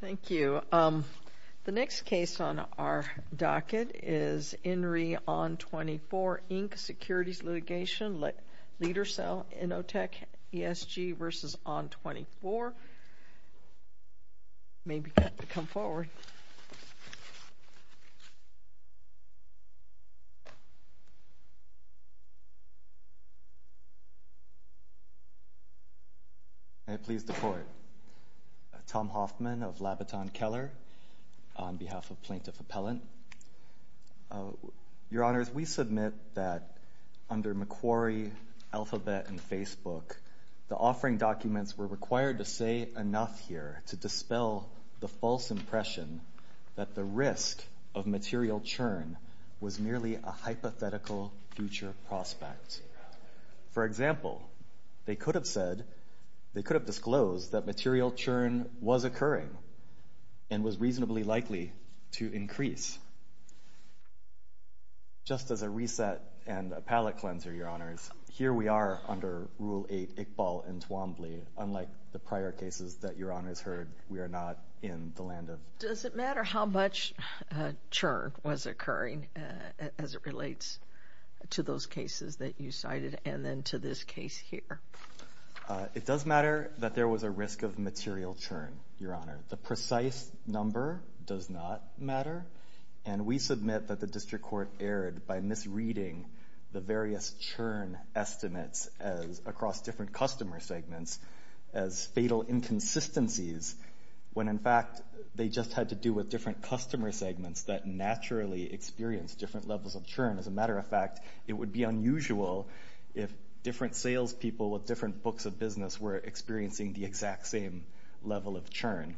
Thank you. The next case on our docket is INRI ON24, Inc., Securities Litigation, Leadercell Innotech ESG v. ON24. May I please deport Tom Hoffman of Labiton Keller on behalf of Plaintiff Appellant. Your Honors, we submit that under McQuarrie, Alphabet, and Facebook, the offering documents were required to say enough here to dispel the false impression that the risk of material churn was merely a hypothetical future prospect. For example, they could have said, they could have disclosed that material churn was occurring and was reasonably likely to increase. Just as a reset and a palate cleanser, Your Honors, here we are under Rule 8, Iqbal and Swambley. Unlike the prior cases that Your Honors heard, we are not in the land of. Does it matter how much churn was occurring as it relates to those cases that you cited and then to this case here? It does matter that there was a risk of material churn, Your Honor. The precise number does not matter, and we submit that the District Court erred by misreading the various churn estimates across different customer segments as fatal inconsistencies when in fact they just had to do with different customer segments that naturally experienced different levels of churn. As a matter of fact, it would be unusual if different salespeople with different books of business were experiencing the exact same level of churn.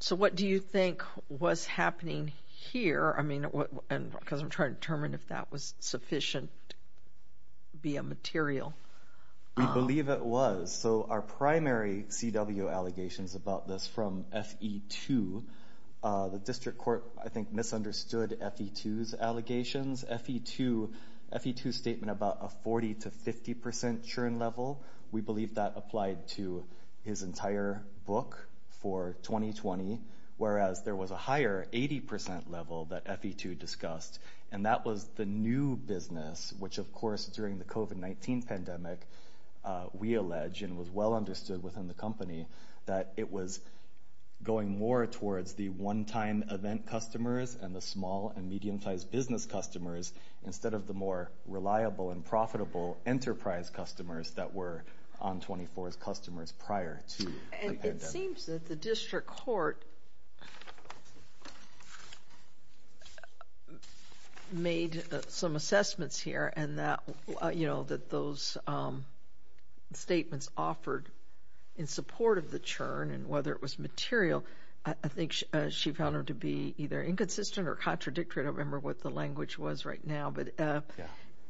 So what do you think was happening here? I mean, because I'm trying to determine if that was sufficient to be a material. We believe it was. So our primary CW allegations about this from FE2, the District Court, I think, misunderstood FE2's allegations. FE2's statement about a 40 to 50 percent churn level, we believe that applied to his entire book for 2020, whereas there was a higher 80 percent level that FE2 discussed, and that was the new business, which of course during the COVID-19 pandemic, we allege and was well understood within the company that it was going more towards the one-time event customers and the small and medium-sized business customers instead of the more reliable and profitable enterprise customers that were on 24's customers prior to the pandemic. And it seems that the District Court made some assessments here and that, you know, that those statements offered in support of the churn and whether it was material, I think she found them to be either inconsistent or contradictory, I don't remember what the language was right now, but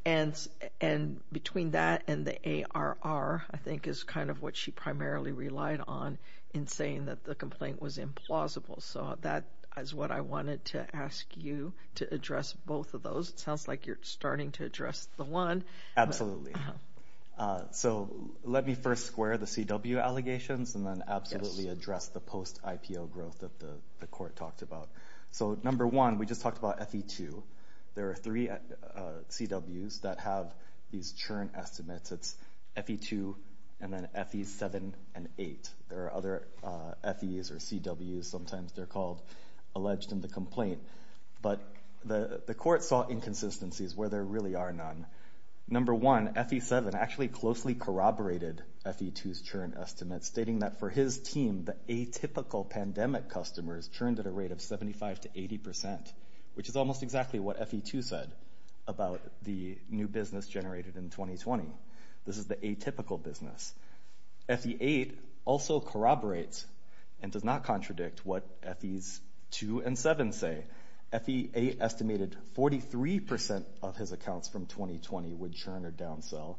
and between that and the ARR, I think is kind of what she primarily relied on in saying that the complaint was implausible. So that is what I wanted to ask you to address both of those. It sounds like you're starting to address the one. So let me first square the CW allegations and then absolutely address the post IPO growth that the court talked about. So number one, we just talked about FE2. There are three CWs that have these churn estimates. It's FE2 and then FE7 and 8. There are other FEs or CWs, sometimes they're called alleged in the complaint. But the court saw inconsistencies where there really are none. Number one, FE7 actually closely corroborated FE2's churn estimates, stating that for his team, the atypical pandemic customers churned at a rate of 75 to 80%, which is almost exactly what FE2 said about the new business generated in 2020. This is the atypical business. FE8 also corroborates and does not contradict what FE's 2 and 7 say. FE8 estimated 43% of his accounts from 2020 would churn or downsell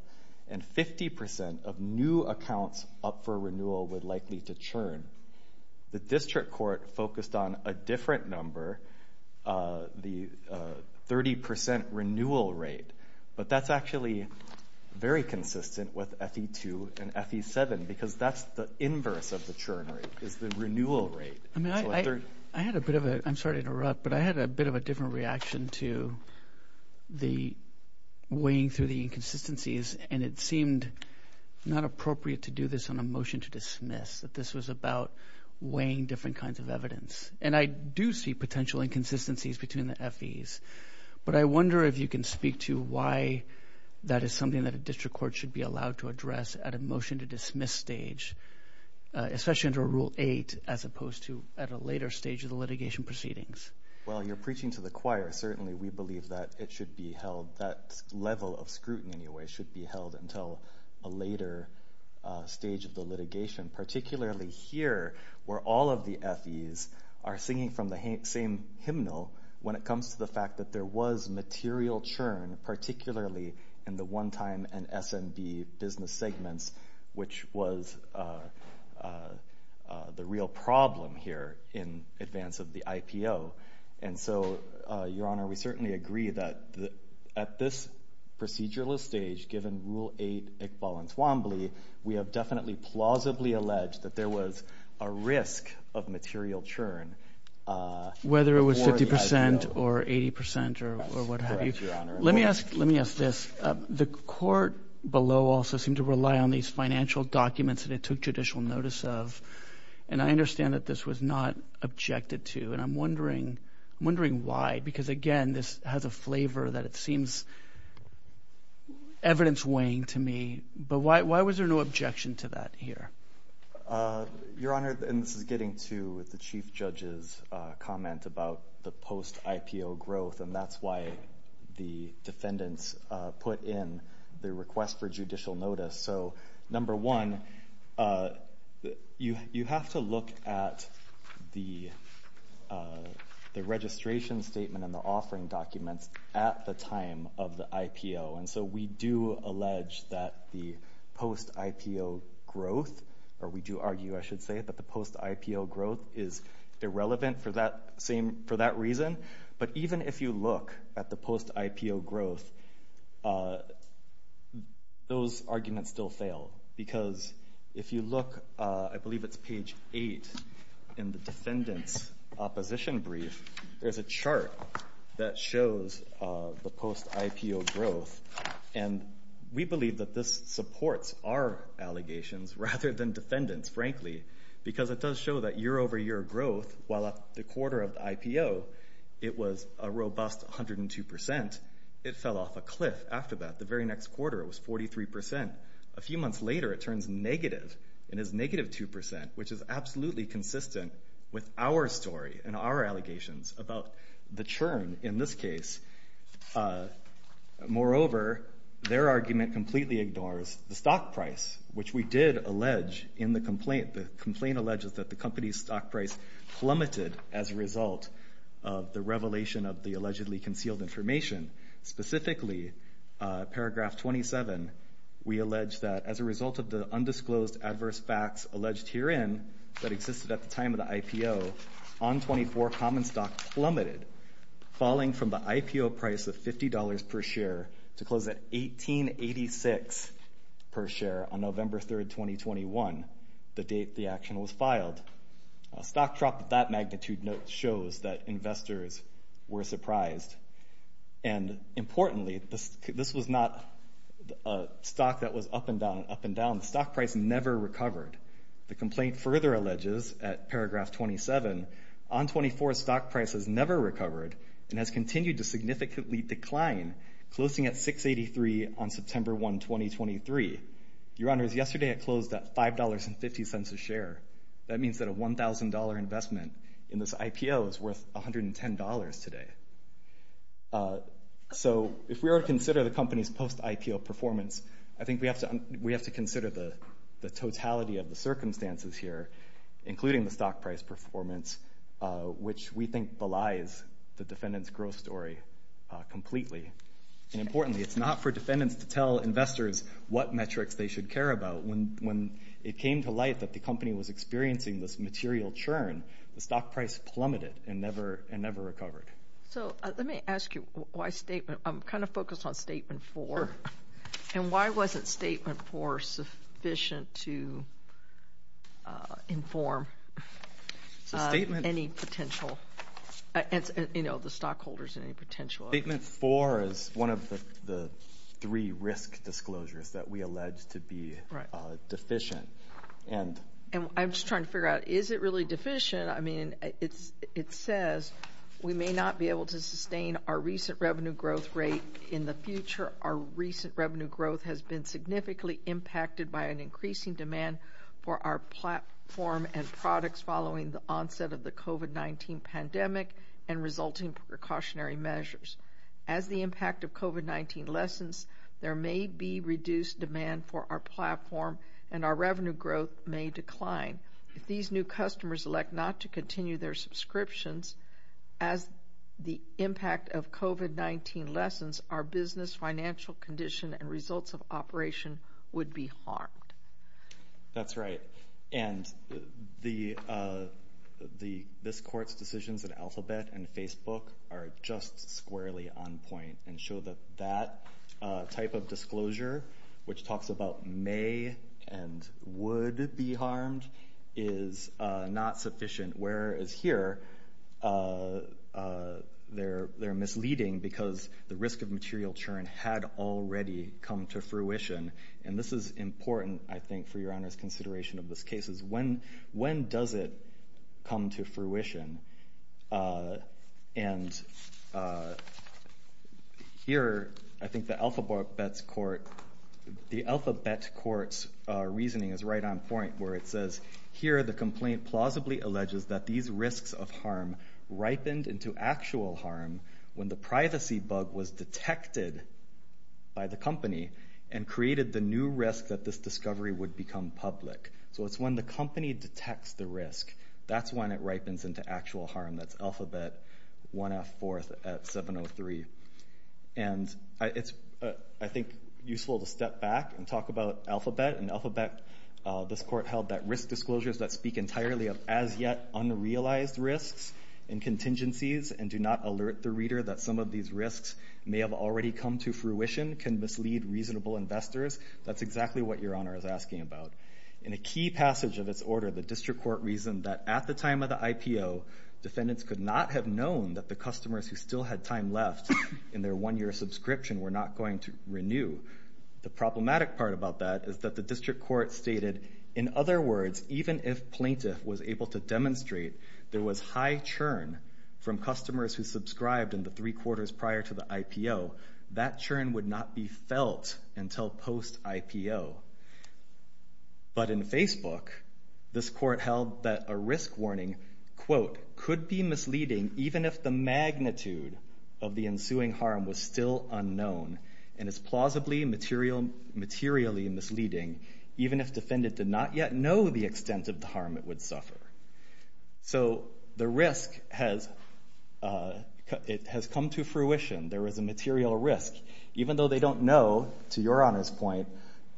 and 50% of new accounts up for renewal would likely to churn. The district court focused on a different number, the 30% renewal rate. But that's actually very consistent with FE2 and FE7 because that's the inverse of the churn rate, is the renewal rate. I mean, I had a bit of a, I'm sorry to interrupt, but I had a bit of a different reaction to the weighing through the inconsistencies, and it seemed not appropriate to do this on a motion to dismiss, that this was about weighing different kinds of evidence. And I do see potential inconsistencies between the FE's. But I wonder if you can speak to why that is something that a district court should be allowed to address at a motion to dismiss stage, especially under Rule 8, as opposed to at a later stage of the litigation proceedings. Well, you're preaching to the choir. Certainly, we believe that it should be held, that level of scrutiny in a way should be held until a later stage of the litigation, particularly here where all of the FE's are singing from the same hymnal when it comes to the fact that there was material churn, particularly in the one time and S&B business segments, which was the real problem here in advance of the IPO. And so, Your Honor, we certainly agree that at this procedural stage, given Rule 8, Iqbal and Twombly, we have definitely plausibly alleged that there was a risk of material churn. Whether it was 50% or 80% or what have you. Let me ask, let me ask this. The court below also seemed to rely on these financial documents that it took judicial notice of. And I understand that this was not objected to, and I'm wondering, I'm wondering why. Because again, this has a flavor that it seems evidence weighing to me, but why was there no objection to that here? Your Honor, and this is getting to the Chief Judge's comment about the post-IPO growth, and that's why the defendants put in the request for judicial notice. So number one, you have to look at the registration statement and the offering documents at the time of the IPO. And so we do allege that the post-IPO growth, or we do argue, I should say, that the post-IPO growth is irrelevant for that same, for that reason. But even if you look at the post-IPO growth, those arguments still fail. Because if you look, I believe it's page eight in the defendant's opposition brief, there's a chart that shows the post-IPO growth. And we believe that this supports our allegations rather than defendants, frankly, because it doesn't show that year-over-year growth, while at the quarter of the IPO, it was a robust 102%. It fell off a cliff after that. The very next quarter, it was 43%. A few months later, it turns negative and is negative 2%, which is absolutely consistent with our story and our allegations about the churn in this case. Moreover, their argument completely ignores the stock price, which we did allege in the complaint alleges that the company's stock price plummeted as a result of the revelation of the allegedly concealed information. Specifically, paragraph 27, we allege that as a result of the undisclosed adverse facts alleged herein that existed at the time of the IPO, on 24, common stock plummeted, falling from the IPO price of $50 per share to close at $18.86 per share on November 3rd, 2021, the date the action was filed. Stock dropped at that magnitude note shows that investors were surprised, and importantly, this was not a stock that was up and down, up and down. Stock price never recovered. The complaint further alleges at paragraph 27, on 24, stock price has never recovered and has continued to significantly decline, closing at $6.83 on September 1, 2023. Your Honors, yesterday it closed at $5.50 a share. That means that a $1,000 investment in this IPO is worth $110 today. So if we were to consider the company's post-IPO performance, I think we have to consider the totality of the circumstances here, including the stock price performance, which we think belies the defendant's growth story completely. And importantly, it's not for defendants to tell investors what metrics they should care about. When it came to light that the company was experiencing this material churn, the stock price plummeted and never recovered. So let me ask you why statement, I'm kind of focused on statement four, and why wasn't statement four sufficient to inform any potential, you know, the stockholders in any potential? Statement four is one of the three risk disclosures that we allege to be deficient. And I'm just trying to figure out, is it really deficient? I mean, it says, we may not be able to sustain our recent revenue growth rate in the future. Our recent revenue growth has been significantly impacted by an increasing demand for our platform and products following the onset of the COVID-19 pandemic and resulting precautionary measures. As the impact of COVID-19 lessens, there may be reduced demand for our platform and our revenue growth may decline. If these new customers elect not to continue their subscriptions, as the impact of COVID-19 lessens, our business financial condition and results of operation would be harmed. That's right. And the, this court's decisions in Alphabet and Facebook are just squarely on point and show that that type of disclosure, which talks about may and would be harmed, is not sufficient. Whereas here, they're misleading because the risk of material churn had already come to fruition. And this is important, I think, for your Honor's consideration of this case, is when does it come to fruition? And here, I think the Alphabet court's reasoning is right on point, where it says, here the complaint plausibly alleges that these risks of harm ripened into actual harm when the privacy bug was detected by the company and created the new risk that this discovery would become public. So it's when the company detects the risk, that's when it ripens into actual harm. That's Alphabet 1F4 at 703. And it's, I think, useful to step back and talk about Alphabet, and Alphabet, this court held that risk disclosures that speak entirely of as yet unrealized risks and contingencies and do not alert the reader that some of these risks may have already come to fruition can mislead reasonable investors. That's exactly what your Honor is asking about. In a key passage of its order, the district court reasoned that at the time of the IPO, defendants could not have known that the customers who still had time left in their one-year subscription were not going to renew. The problematic part about that is that the district court stated, in other words, even if plaintiff was able to demonstrate there was high churn from customers who subscribed in the three quarters prior to the IPO, that churn would not be felt until post-IPO. But in Facebook, this court held that a risk warning, quote, could be misleading even if the magnitude of the ensuing harm was still unknown. And it's plausibly materially misleading, even if defendant did not yet know the extent of the harm it would suffer. So the risk has come to fruition. There is a material risk. Even though they don't know, to your Honor's point,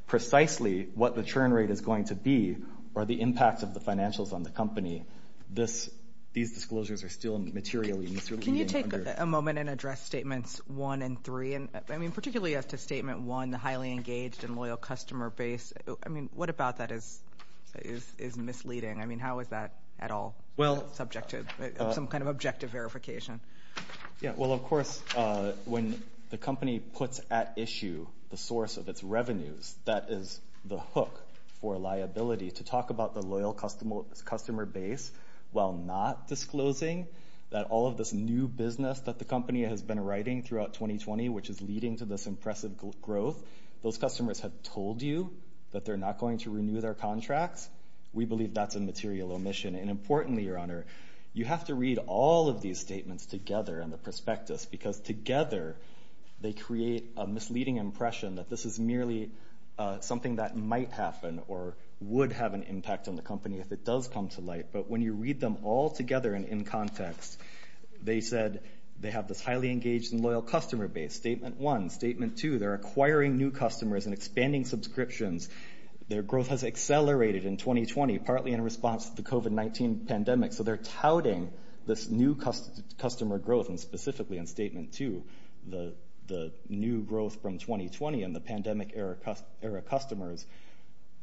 precisely what the churn rate is going to be or the impact of the financials on the company, these disclosures are still materially misleading. Can you take a moment and address Statements 1 and 3, particularly as to Statement 1, the highly engaged and loyal customer base? What about that is misleading? How is that at all subject to some kind of objective verification? Well, of course, when the company puts at issue the source of its revenues, that is the hook for liability. To talk about the loyal customer base while not disclosing that all of this new business that the company has been writing throughout 2020, which is leading to this impressive growth, those customers have told you that they're not going to renew their contracts. We believe that's a material omission. And importantly, Your Honor, you have to read all of these statements together and the prospectus, because together they create a misleading impression that this is merely something that might happen or would have an impact on the company if it does come to light. But when you read them all together and in context, they said they have this highly engaged and loyal customer base. Statement 1, Statement 2, they're acquiring new customers and expanding subscriptions. Their growth has accelerated in 2020, partly in response to the COVID-19 pandemic. So they're touting this new customer growth and specifically in Statement 2, the new growth from 2020 and the pandemic era customers.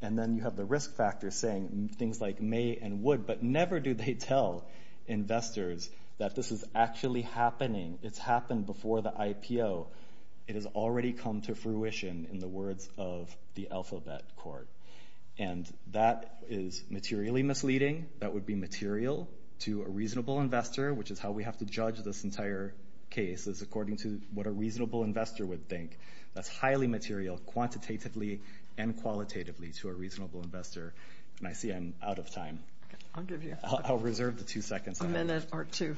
And then you have the risk factor saying things like may and would, but never do they tell investors that this is actually happening. It's happened before the IPO. It has already come to fruition in the words of the Alphabet Court. And that is materially misleading. That would be material to a reasonable investor, which is how we have to judge this entire case, is according to what a reasonable investor would think. That's highly material quantitatively and qualitatively to a reasonable investor. And I see I'm out of time. I'll reserve the two seconds. A minute or two.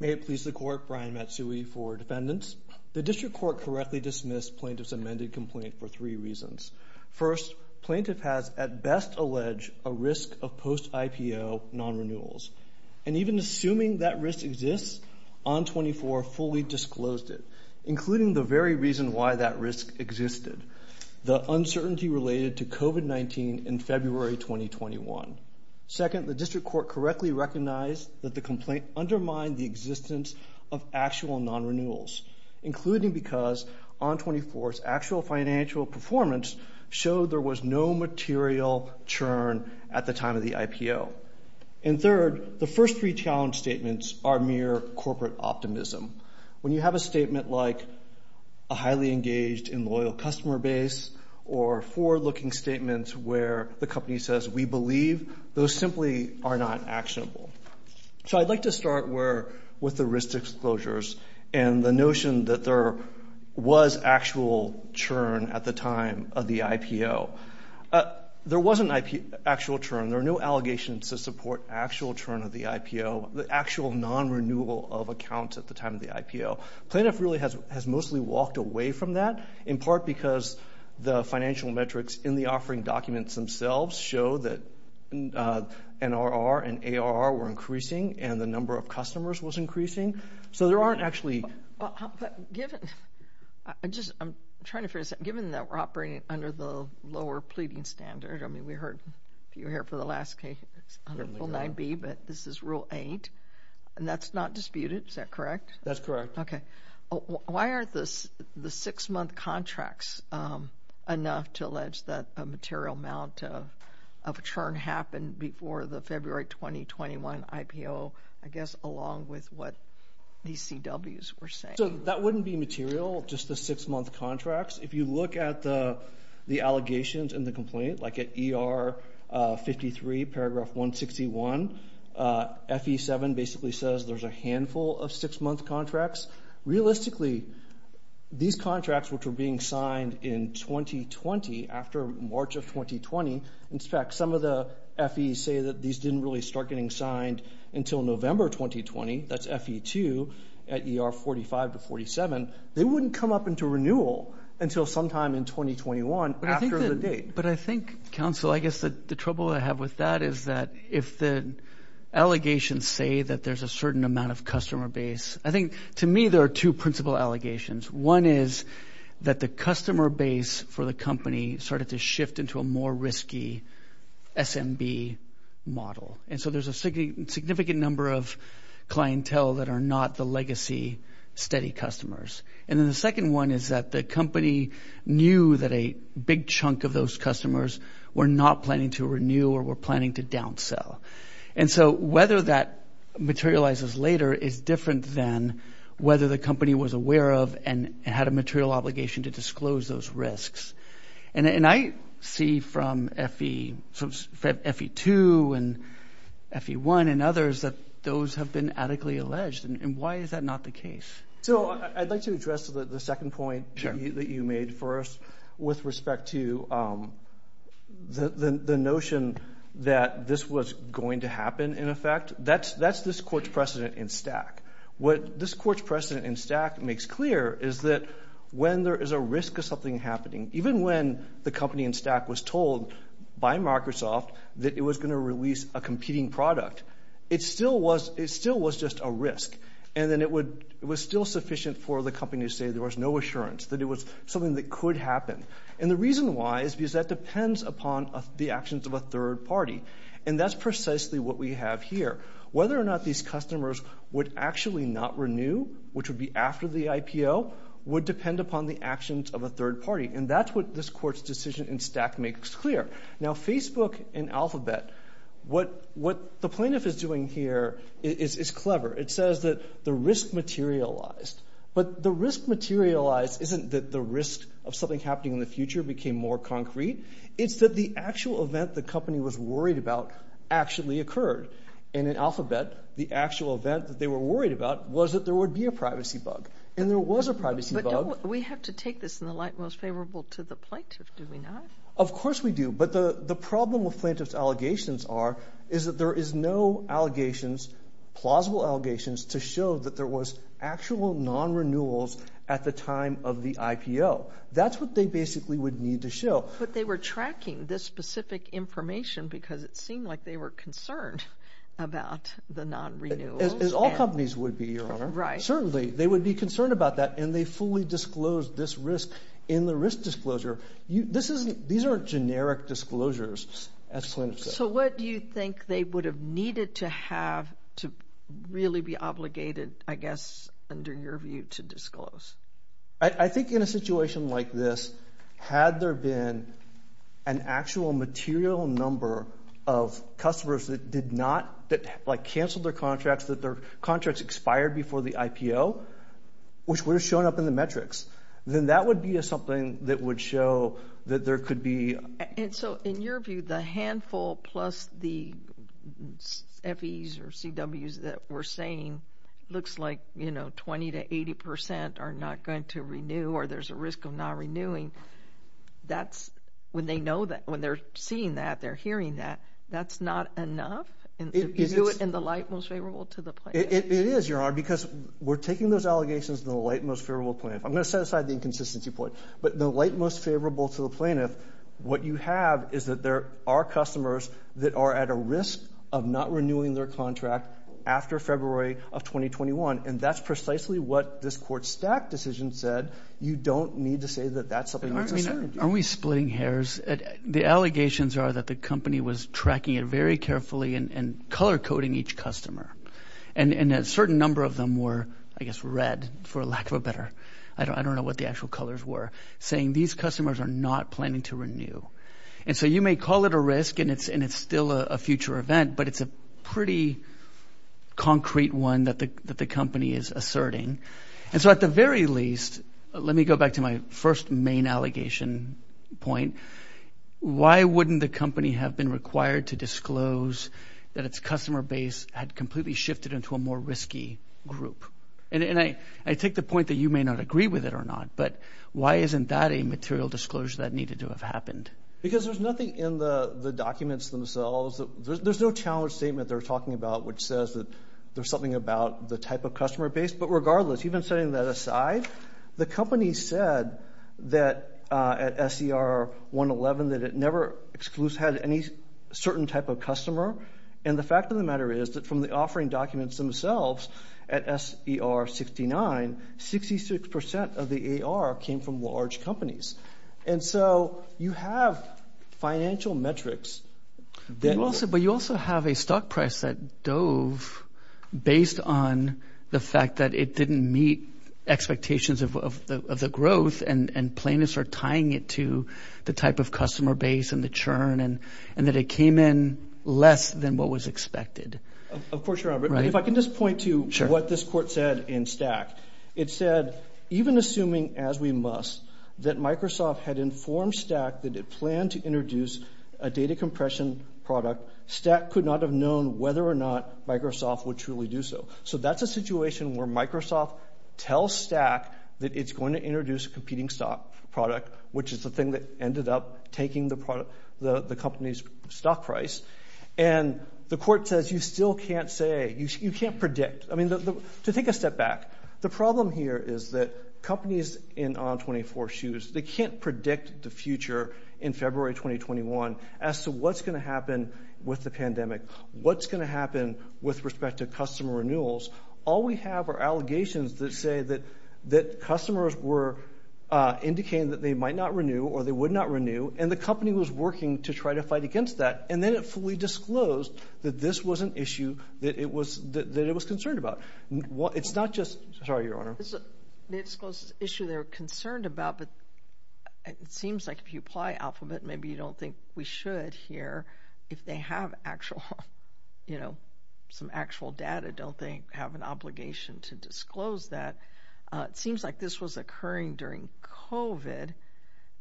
May it please the court, Brian Matsui for defendants. The district court correctly dismissed plaintiff's amended complaint for three reasons. First, plaintiff has at best allege a risk of post IPO non-renewals. And even assuming that risk exists, ON 24 fully disclosed it, including the very reason why that risk existed, the uncertainty related to COVID-19 in February 2021. Second, the district court correctly recognized that the complaint undermined the existence of actual non-renewals, including because ON 24's actual financial performance showed there was no material churn at the time of the IPO. And third, the first three challenge statements are mere corporate optimism. When you have a statement like a highly engaged and loyal customer base or forward-looking statements where the company says, we believe, those simply are not actionable. So I'd like to start with the risk disclosures and the notion that there was actual churn at the time of the IPO. There was an actual churn. There are no allegations to support actual churn of the IPO, the actual non-renewal of accounts at the time of the IPO. Plaintiff really has mostly walked away from that, in part because the financial metrics in the offering documents themselves show that NRR and ARR were increasing and the number of customers was increasing. So there aren't actually... But given, I just, I'm trying to figure this out, given that we're operating under the lower pleading standard, I mean, we heard, if you were here for the last case, it's under full 9B, but this is rule eight, and that's not disputed, is that correct? That's correct. Okay. Why aren't the six-month contracts enough to allege that a material amount of churn happened before the February 2021 IPO, I guess, along with what these CWs were saying? So that wouldn't be material, just the six-month contracts. If you look at the allegations and the complaint, like at ER 53, paragraph 161, FE 7 basically says there's a handful of six-month contracts. Realistically, these contracts, which were being signed in 2020, after March of 2020, in fact, some of the FEs say that these didn't really start getting signed until November 2020, that's FE 2 at ER 45 to 47. They wouldn't come up into renewal until sometime in 2021 after the date. But I think, counsel, I guess the trouble I have with that is that if the allegations say that there's a certain amount of customer base, I think, to me, there are two principal allegations. One is that the customer base for the company started to shift into a more risky SMB model, and so there's a significant number of clientele that are not the legacy steady customers. And then the second one is that the company knew that a big chunk of those customers were not planning to renew or were planning to downsell. And so whether that materializes later is different than whether the company was aware of and had a material obligation to disclose those risks. And I see from FE 2 and FE 1 and others that those have been adequately alleged, and why is that not the case? So I'd like to address the second point that you made first with respect to the notion that this was going to happen, in effect. That's this court's precedent in STAC. What this court's precedent in STAC makes clear is that when there is a risk of something happening, even when the company in STAC was told by Microsoft that it was going to release a competing product, it still was just a risk. And then it was still sufficient for the company to say there was no assurance, that it was something that could happen. And the reason why is because that depends upon the actions of a third party. And that's precisely what we have here. Whether or not these customers would actually not renew, which would be after the IPO, would depend upon the actions of a third party. And that's what this court's decision in STAC makes clear. Now Facebook and Alphabet, what the plaintiff is doing here is clever. It says that the risk materialized. But the risk materialized isn't that the risk of something happening in the future became more concrete. It's that the actual event the company was worried about actually occurred. And in Alphabet, the actual event that they were worried about was that there would be a privacy bug. And there was a privacy bug. We have to take this in the light most favorable to the plaintiff, do we not? Of course we do. But the problem with plaintiff's allegations are, is that there is no allegations, plausible non-renewals at the time of the IPO. That's what they basically would need to show. But they were tracking this specific information because it seemed like they were concerned about the non-renewals. All companies would be, Your Honor. Certainly, they would be concerned about that. And they fully disclosed this risk in the risk disclosure. These aren't generic disclosures, as plaintiff says. So what do you think they would have needed to have to really be obligated, I guess, under your view to disclose? I think in a situation like this, had there been an actual material number of customers that did not, that like canceled their contracts, that their contracts expired before the IPO, which would have shown up in the metrics, then that would be something that would show that there could be. And so in your view, the handful plus the FEs or CWs that we're saying looks like, you know, 20% to 80% are not going to renew or there's a risk of non-renewing, that's, when they know that, when they're seeing that, they're hearing that, that's not enough? You do it in the light most favorable to the plaintiff? It is, Your Honor, because we're taking those allegations in the light most favorable to I'm going to set aside the inconsistency point. But the light most favorable to the plaintiff, what you have is that there are customers that are at a risk of not renewing their contract after February of 2021. And that's precisely what this court's stack decision said. You don't need to say that that's something that's a certainty. Are we splitting hairs? The allegations are that the company was tracking it very carefully and color coding each customer. And a certain number of them were, I guess, red, for lack of a better, I don't know what the actual colors were, saying these customers are not planning to renew. And so you may call it a risk and it's still a future event, but it's a pretty concrete one that the company is asserting. And so at the very least, let me go back to my first main allegation point. Why wouldn't the company have been required to disclose that its customer base had completely shifted into a more risky group? And I take the point that you may not agree with it or not, but why isn't that a material disclosure that needed to have happened? Because there's nothing in the documents themselves, there's no challenge statement they're talking about which says that there's something about the type of customer base. But regardless, even setting that aside, the company said that at SER 111 that it never excludes had any certain type of customer. And the fact of the matter is that from the offering documents themselves at SER 69, 66% of the AR came from large companies. And so you have financial metrics that... But you also have a stock price that dove based on the fact that it didn't meet expectations of the growth and plaintiffs are tying it to the type of customer base and the churn and that it came in less than what was expected. Of course you're right. But if I can just point to what this court said in Stack. It said, even assuming as we must, that Microsoft had informed Stack that it planned to introduce a data compression product, Stack could not have known whether or not Microsoft would truly do so. So that's a situation where Microsoft tells Stack that it's going to introduce a competing stock product, which is the thing that ended up taking the company's stock price. And the court says you still can't say, you can't predict. I mean, to take a step back, the problem here is that companies in On24 shoes, they can't predict the future in February 2021 as to what's going to happen with the pandemic, what's going to happen with respect to customer renewals. All we have are allegations that say that customers were indicating that they might not renew or they would not renew and the company was working to try to fight against that. And then it fully disclosed that this was an issue that it was that it was concerned about. It's not just... Sorry, Your Honor. It's an issue they're concerned about, but it seems like if you apply Alphabet, maybe you don't think we should here. If they have actual, you know, some actual data, don't they have an obligation to disclose that? It seems like this was occurring during COVID.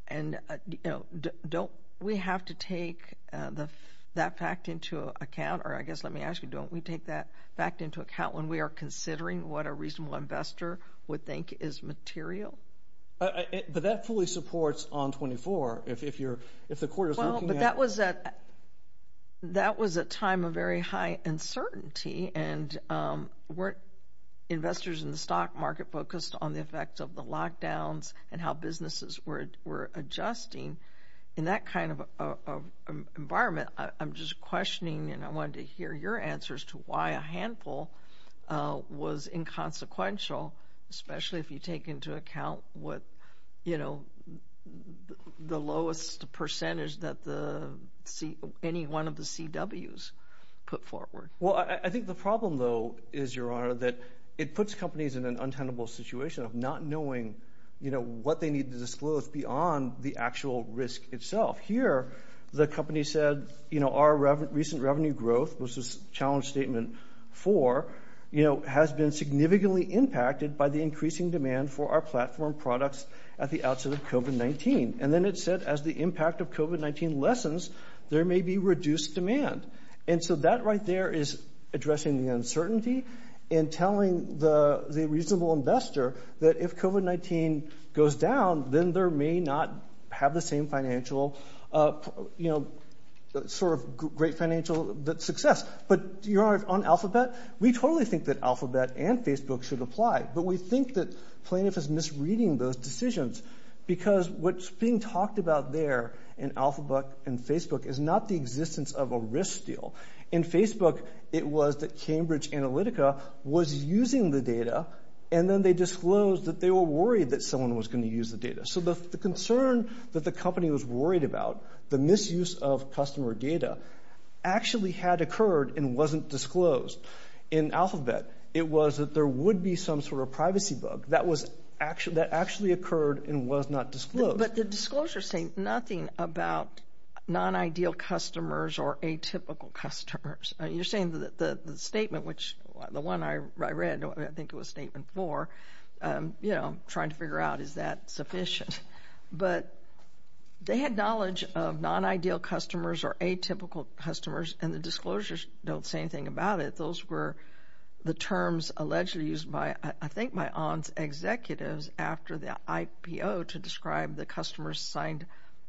And, you know, don't we have to take that fact into account? Or I guess, let me ask you, don't we take that fact into account when we are considering what a reasonable investor would think is material? But that fully supports On24 if you're, if the court is looking at it. Well, but that was a, that was a time of very high uncertainty. And weren't investors in the stock market focused on the effects of the lockdowns and how businesses were adjusting in that kind of environment? I'm just questioning, and I wanted to hear your answers to why a handful was inconsequential, especially if you take into account what, you know, the lowest percentage that the C, any one of the CWs put forward. Well, I think the problem, though, is, Your Honor, that it puts companies in an untenable situation of not knowing, you know, what they need to disclose beyond the actual risk itself. Here, the company said, you know, our recent revenue growth was this challenge statement for, you know, has been significantly impacted by the increasing demand for our platform products at the outset of COVID-19. And then it said, as the impact of COVID-19 lessens, there may be reduced demand. And so that right there is addressing the uncertainty and telling the reasonable investor that if COVID-19 goes down, then there may not have the same financial, you know, sort of great financial success. But Your Honor, on Alphabet, we totally think that Alphabet and Facebook should apply. But we think that Plaintiff is misreading those decisions, because what's being talked about there in Alphabet and Facebook is not the existence of a risk deal. In Facebook, it was that Cambridge Analytica was using the data, and then they disclosed that they were worried that someone was going to use the data. So the concern that the company was worried about, the misuse of customer data, actually had occurred and wasn't disclosed. In Alphabet, it was that there would be some sort of privacy bug that actually occurred and was not disclosed. But the disclosures say nothing about non-ideal customers or atypical customers. You're saying that the statement, which the one I read, I think it was statement four, you know, trying to figure out is that sufficient. But they had knowledge of non-ideal customers or atypical customers, and the disclosures don't say anything about it. But those were the terms allegedly used by, I think, by ON's executives after the IPO to describe the customers signed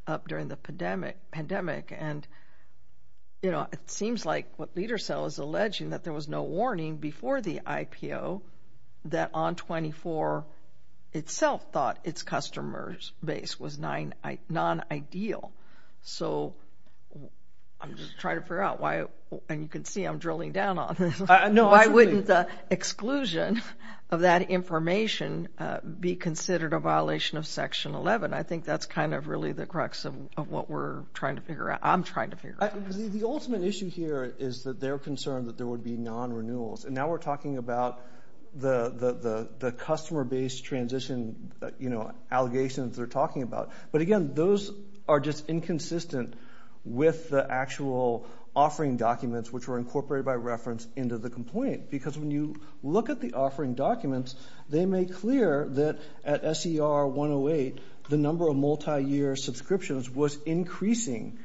up during the pandemic. And, you know, it seems like what LeaderCell is alleging, that there was no warning before the IPO that ON24 itself thought its customer base was non-ideal. So I'm just trying to figure out why, and you can see I'm drilling down on this, why wouldn't the exclusion of that information be considered a violation of Section 11? I think that's kind of really the crux of what we're trying to figure out, I'm trying to figure out. The ultimate issue here is that they're concerned that there would be non-renewals. And now we're talking about the customer base transition, you know, allegations they're talking about. But again, those are just inconsistent with the actual offering documents, which were incorporated by reference into the complaint. Because when you look at the offering documents, they make clear that at SER 108, the number of multi-year subscriptions was increasing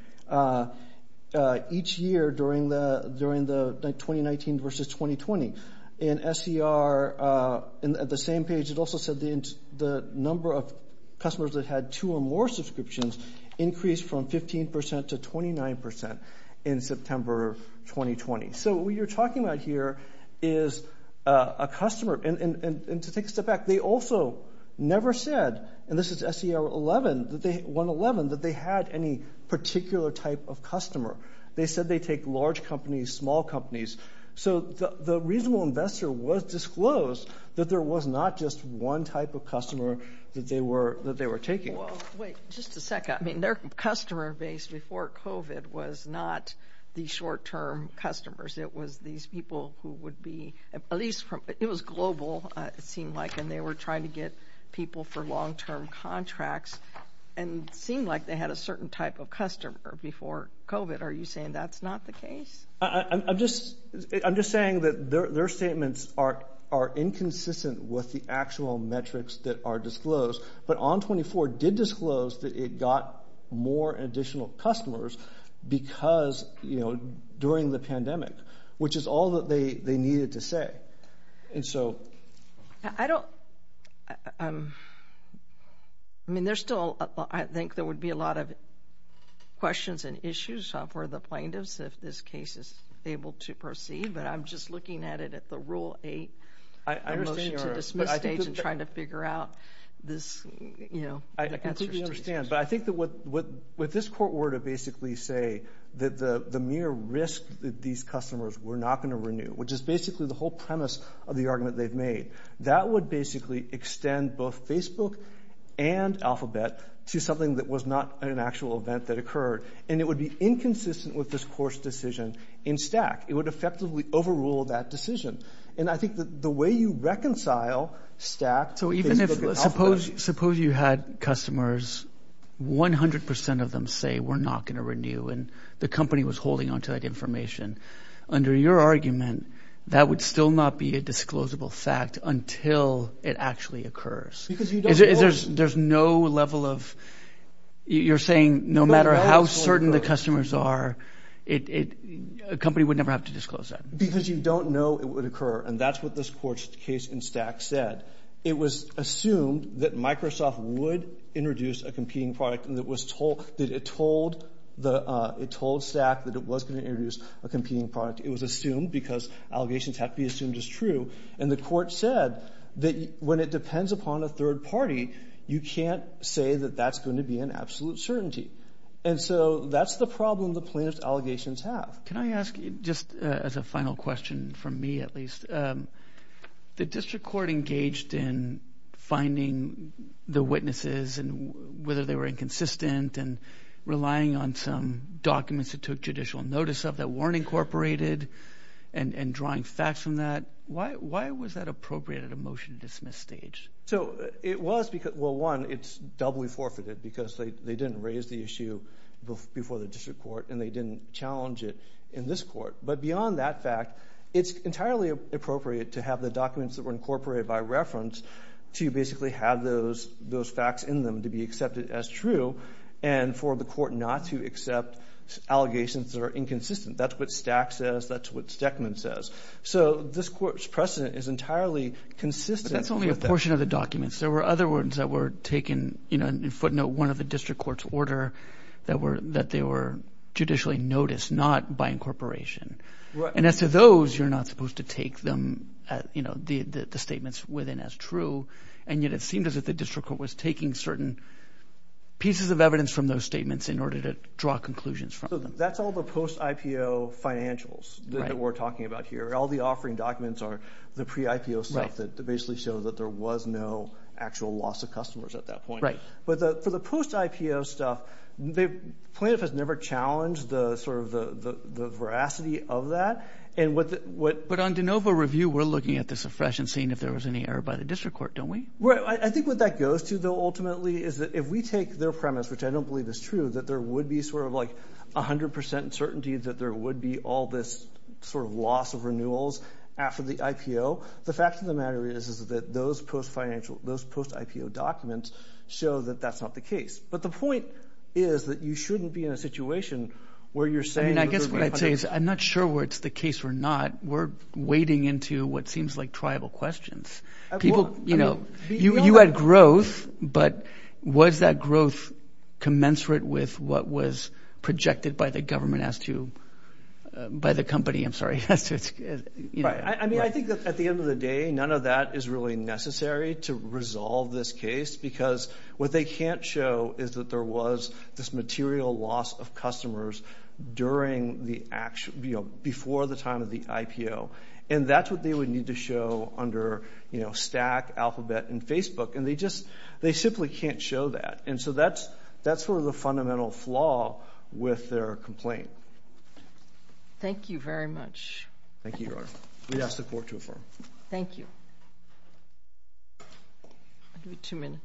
each year during the 2019 versus 2020. In SER, at the same page, it also said the number of customers that had two or more subscriptions increased from 15% to 29% in September of 2020. So what you're talking about here is a customer, and to take a step back, they also never said, and this is SER 111, that they had any particular type of customer. They said they take large companies, small companies. So the reasonable investor was disclosed that there was not just one type of customer that they were taking. Wait, just a second. I mean, their customer base before COVID was not the short-term customers. It was these people who would be, at least, it was global, it seemed like, and they were trying to get people for long-term contracts, and it seemed like they had a certain type of customer before COVID. Are you saying that's not the case? I'm just saying that their statements are inconsistent with the actual metrics that are disclosed, but ON24 did disclose that it got more additional customers because, you know, during the pandemic, which is all that they needed to say. And so... I don't... I mean, there's still, I think there would be a lot of questions and issues for the plaintiffs if this case is able to proceed, but I'm just looking at it at the Rule 8, the motion to dismiss stage, and trying to figure out this, you know, the answers to these questions. I completely understand, but I think that what this court were to basically say that the mere risk that these customers were not going to renew, which is basically the whole premise of the argument they've made, that would basically extend both Facebook and Alphabet to something that was not an actual event that occurred, and it would be inconsistent with this court's decision in Stack. It would effectively overrule that decision. And I think that the way you reconcile Stack, Facebook, and Alphabet... So even if... Suppose you had customers, 100% of them say, we're not going to renew, and the company was holding onto that information. Under your argument, that would still not be a disclosable fact until it actually occurs. Because you don't... There's no level of... You're saying no matter how certain the customers are, a company would never have to disclose that. Because you don't know it would occur, and that's what this court's case in Stack said. It was assumed that Microsoft would introduce a competing product, and it told Stack that it was going to introduce a competing product. It was assumed, because allegations have to be assumed as true. And the court said that when it depends upon a third party, you can't say that that's going to be an absolute certainty. And so that's the problem the plaintiff's allegations have. Can I ask, just as a final question, from me at least, the district court engaged in finding the witnesses, and whether they were inconsistent, and relying on some documents it took judicial notice of that weren't incorporated, and drawing facts from that. Why was that appropriate at a motion to dismiss stage? So it was because, well one, it's doubly forfeited, because they didn't raise the issue before the district court, and they didn't challenge it in this court. But beyond that fact, it's entirely appropriate to have the documents that were incorporated by reference, to basically have those facts in them to be accepted as true, and for the court not to accept allegations that are inconsistent. That's what Stack says, that's what Steckman says. So this court's precedent is entirely consistent with that. But that's only a portion of the documents. There were other ones that were taken, you know, in footnote, one of the district court's order that they were judicially noticed, not by incorporation. And as to those, you're not supposed to take them, you know, the statements within as true. And yet it seemed as if the district court was taking certain pieces of evidence from those statements in order to draw conclusions from them. That's all the post-IPO financials that we're talking about here. All the offering documents are the pre-IPO stuff that basically shows that there was no actual loss of customers at that point. But for the post-IPO stuff, plaintiff has never challenged the veracity of that. But on de novo review, we're looking at this afresh and seeing if there was any error by the district court, don't we? Right. I think what that goes to, though, ultimately, is that if we take their premise, which I don't believe is true, that there would be sort of like 100% certainty that there would be all this sort of loss of renewals after the IPO. The fact of the matter is, is that those post-IPO documents show that that's not the case. But the point is that you shouldn't be in a situation where you're saying- I mean, I guess what I'd say is I'm not sure whether it's the case or not, we're wading into what seems like tribal questions. People, you know, you had growth, but was that growth commensurate with what was projected by the government as to, by the company, I'm sorry, as to its, you know- I mean, I think that at the end of the day, none of that is really necessary to resolve this case because what they can't show is that there was this material loss of customers during the, you know, before the time of the IPO. And that's what they would need to show under, you know, stack, alphabet, and Facebook. And they just, they simply can't show that. And so that's, that's sort of the fundamental flaw with their complaint. Thank you very much. Thank you, Your Honor. We ask the Court to affirm. Thank you. I'll give you two minutes.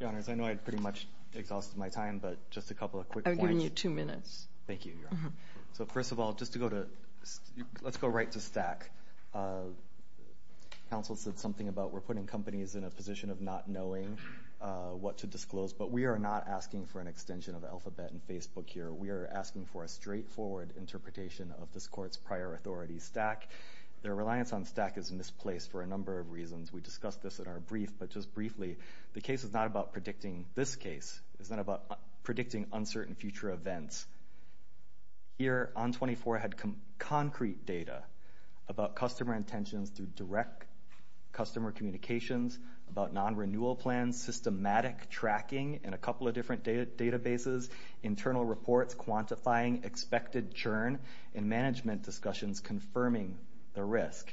Your Honors, I know I pretty much exhausted my time, but just a couple of quick points. I'm giving you two minutes. Thank you, Your Honor. So first of all, just to go to, let's go right to stack. Council said something about we're putting companies in a position of not knowing what to disclose. But we are not asking for an extension of alphabet and Facebook here. We are asking for a straightforward interpretation of this Court's prior authority stack. Their reliance on stack is misplaced for a number of reasons. We discussed this in our brief, but just briefly, the case is not about predicting this case. It's not about predicting uncertain future events. Here, ON 24 had concrete data about customer intentions through direct customer communications, about non-renewal plans, systematic tracking in a couple of different databases, internal reports, quantifying, expected churn, and management discussions confirming the risk.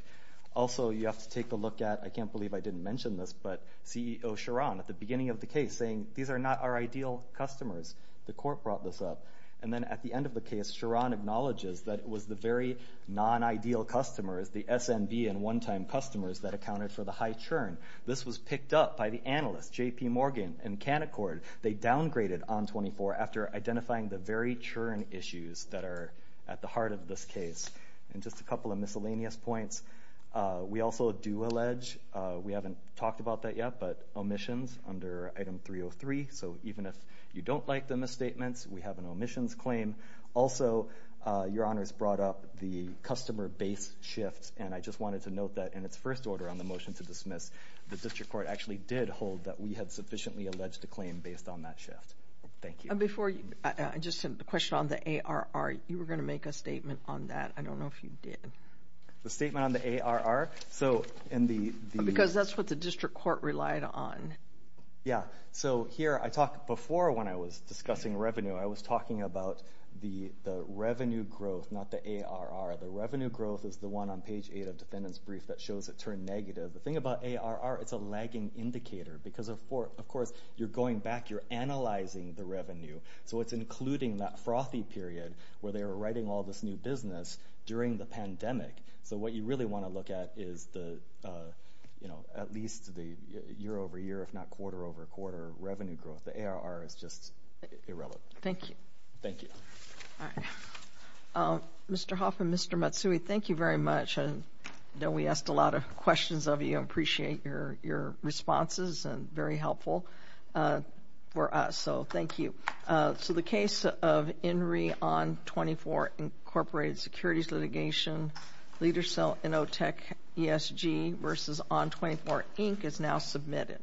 Also, you have to take a look at, I can't believe I didn't mention this, but CEO Charan at the beginning of the case saying, these are not our ideal customers. The Court brought this up. And then at the end of the case, Charan acknowledges that it was the very non-ideal customers, the SMB and one-time customers that accounted for the high churn. This was picked up by the analysts, JP Morgan and Canaccord. They downgraded ON 24 after identifying the very churn issues that are at the heart of this case. And just a couple of miscellaneous points. We also do allege, we haven't talked about that yet, but omissions under item 303. So even if you don't like the misstatements, we have an omissions claim. Also, Your Honors brought up the customer base shifts. And I just wanted to note that in its first order on the motion to dismiss, the District Court actually did hold that we had sufficiently alleged a claim based on that shift. Thank you. And before you, I just had a question on the ARR, you were going to make a statement on that. I don't know if you did. The statement on the ARR? So in the... Because that's what the District Court relied on. Yeah. So here, I talked before when I was discussing revenue, I was talking about the revenue growth, not the ARR. The revenue growth is the one on page eight of defendant's brief that shows it turned negative. The thing about ARR, it's a lagging indicator because of course, you're going back, you're analyzing the revenue. So it's including that frothy period where they were writing all this new business during the pandemic. So what you really want to look at is the, at least the year over year, if not quarter over quarter revenue growth, the ARR is just irrelevant. Thank you. Thank you. All right. Mr. Hoffman, Mr. Matsui, thank you very much. I know we asked a lot of questions of you, I appreciate your responses and very helpful for us. So thank you. So the case of INRI On 24 Incorporated Securities Litigation, Leader Cell Inotech ESG versus On 24 Inc. is now submitted.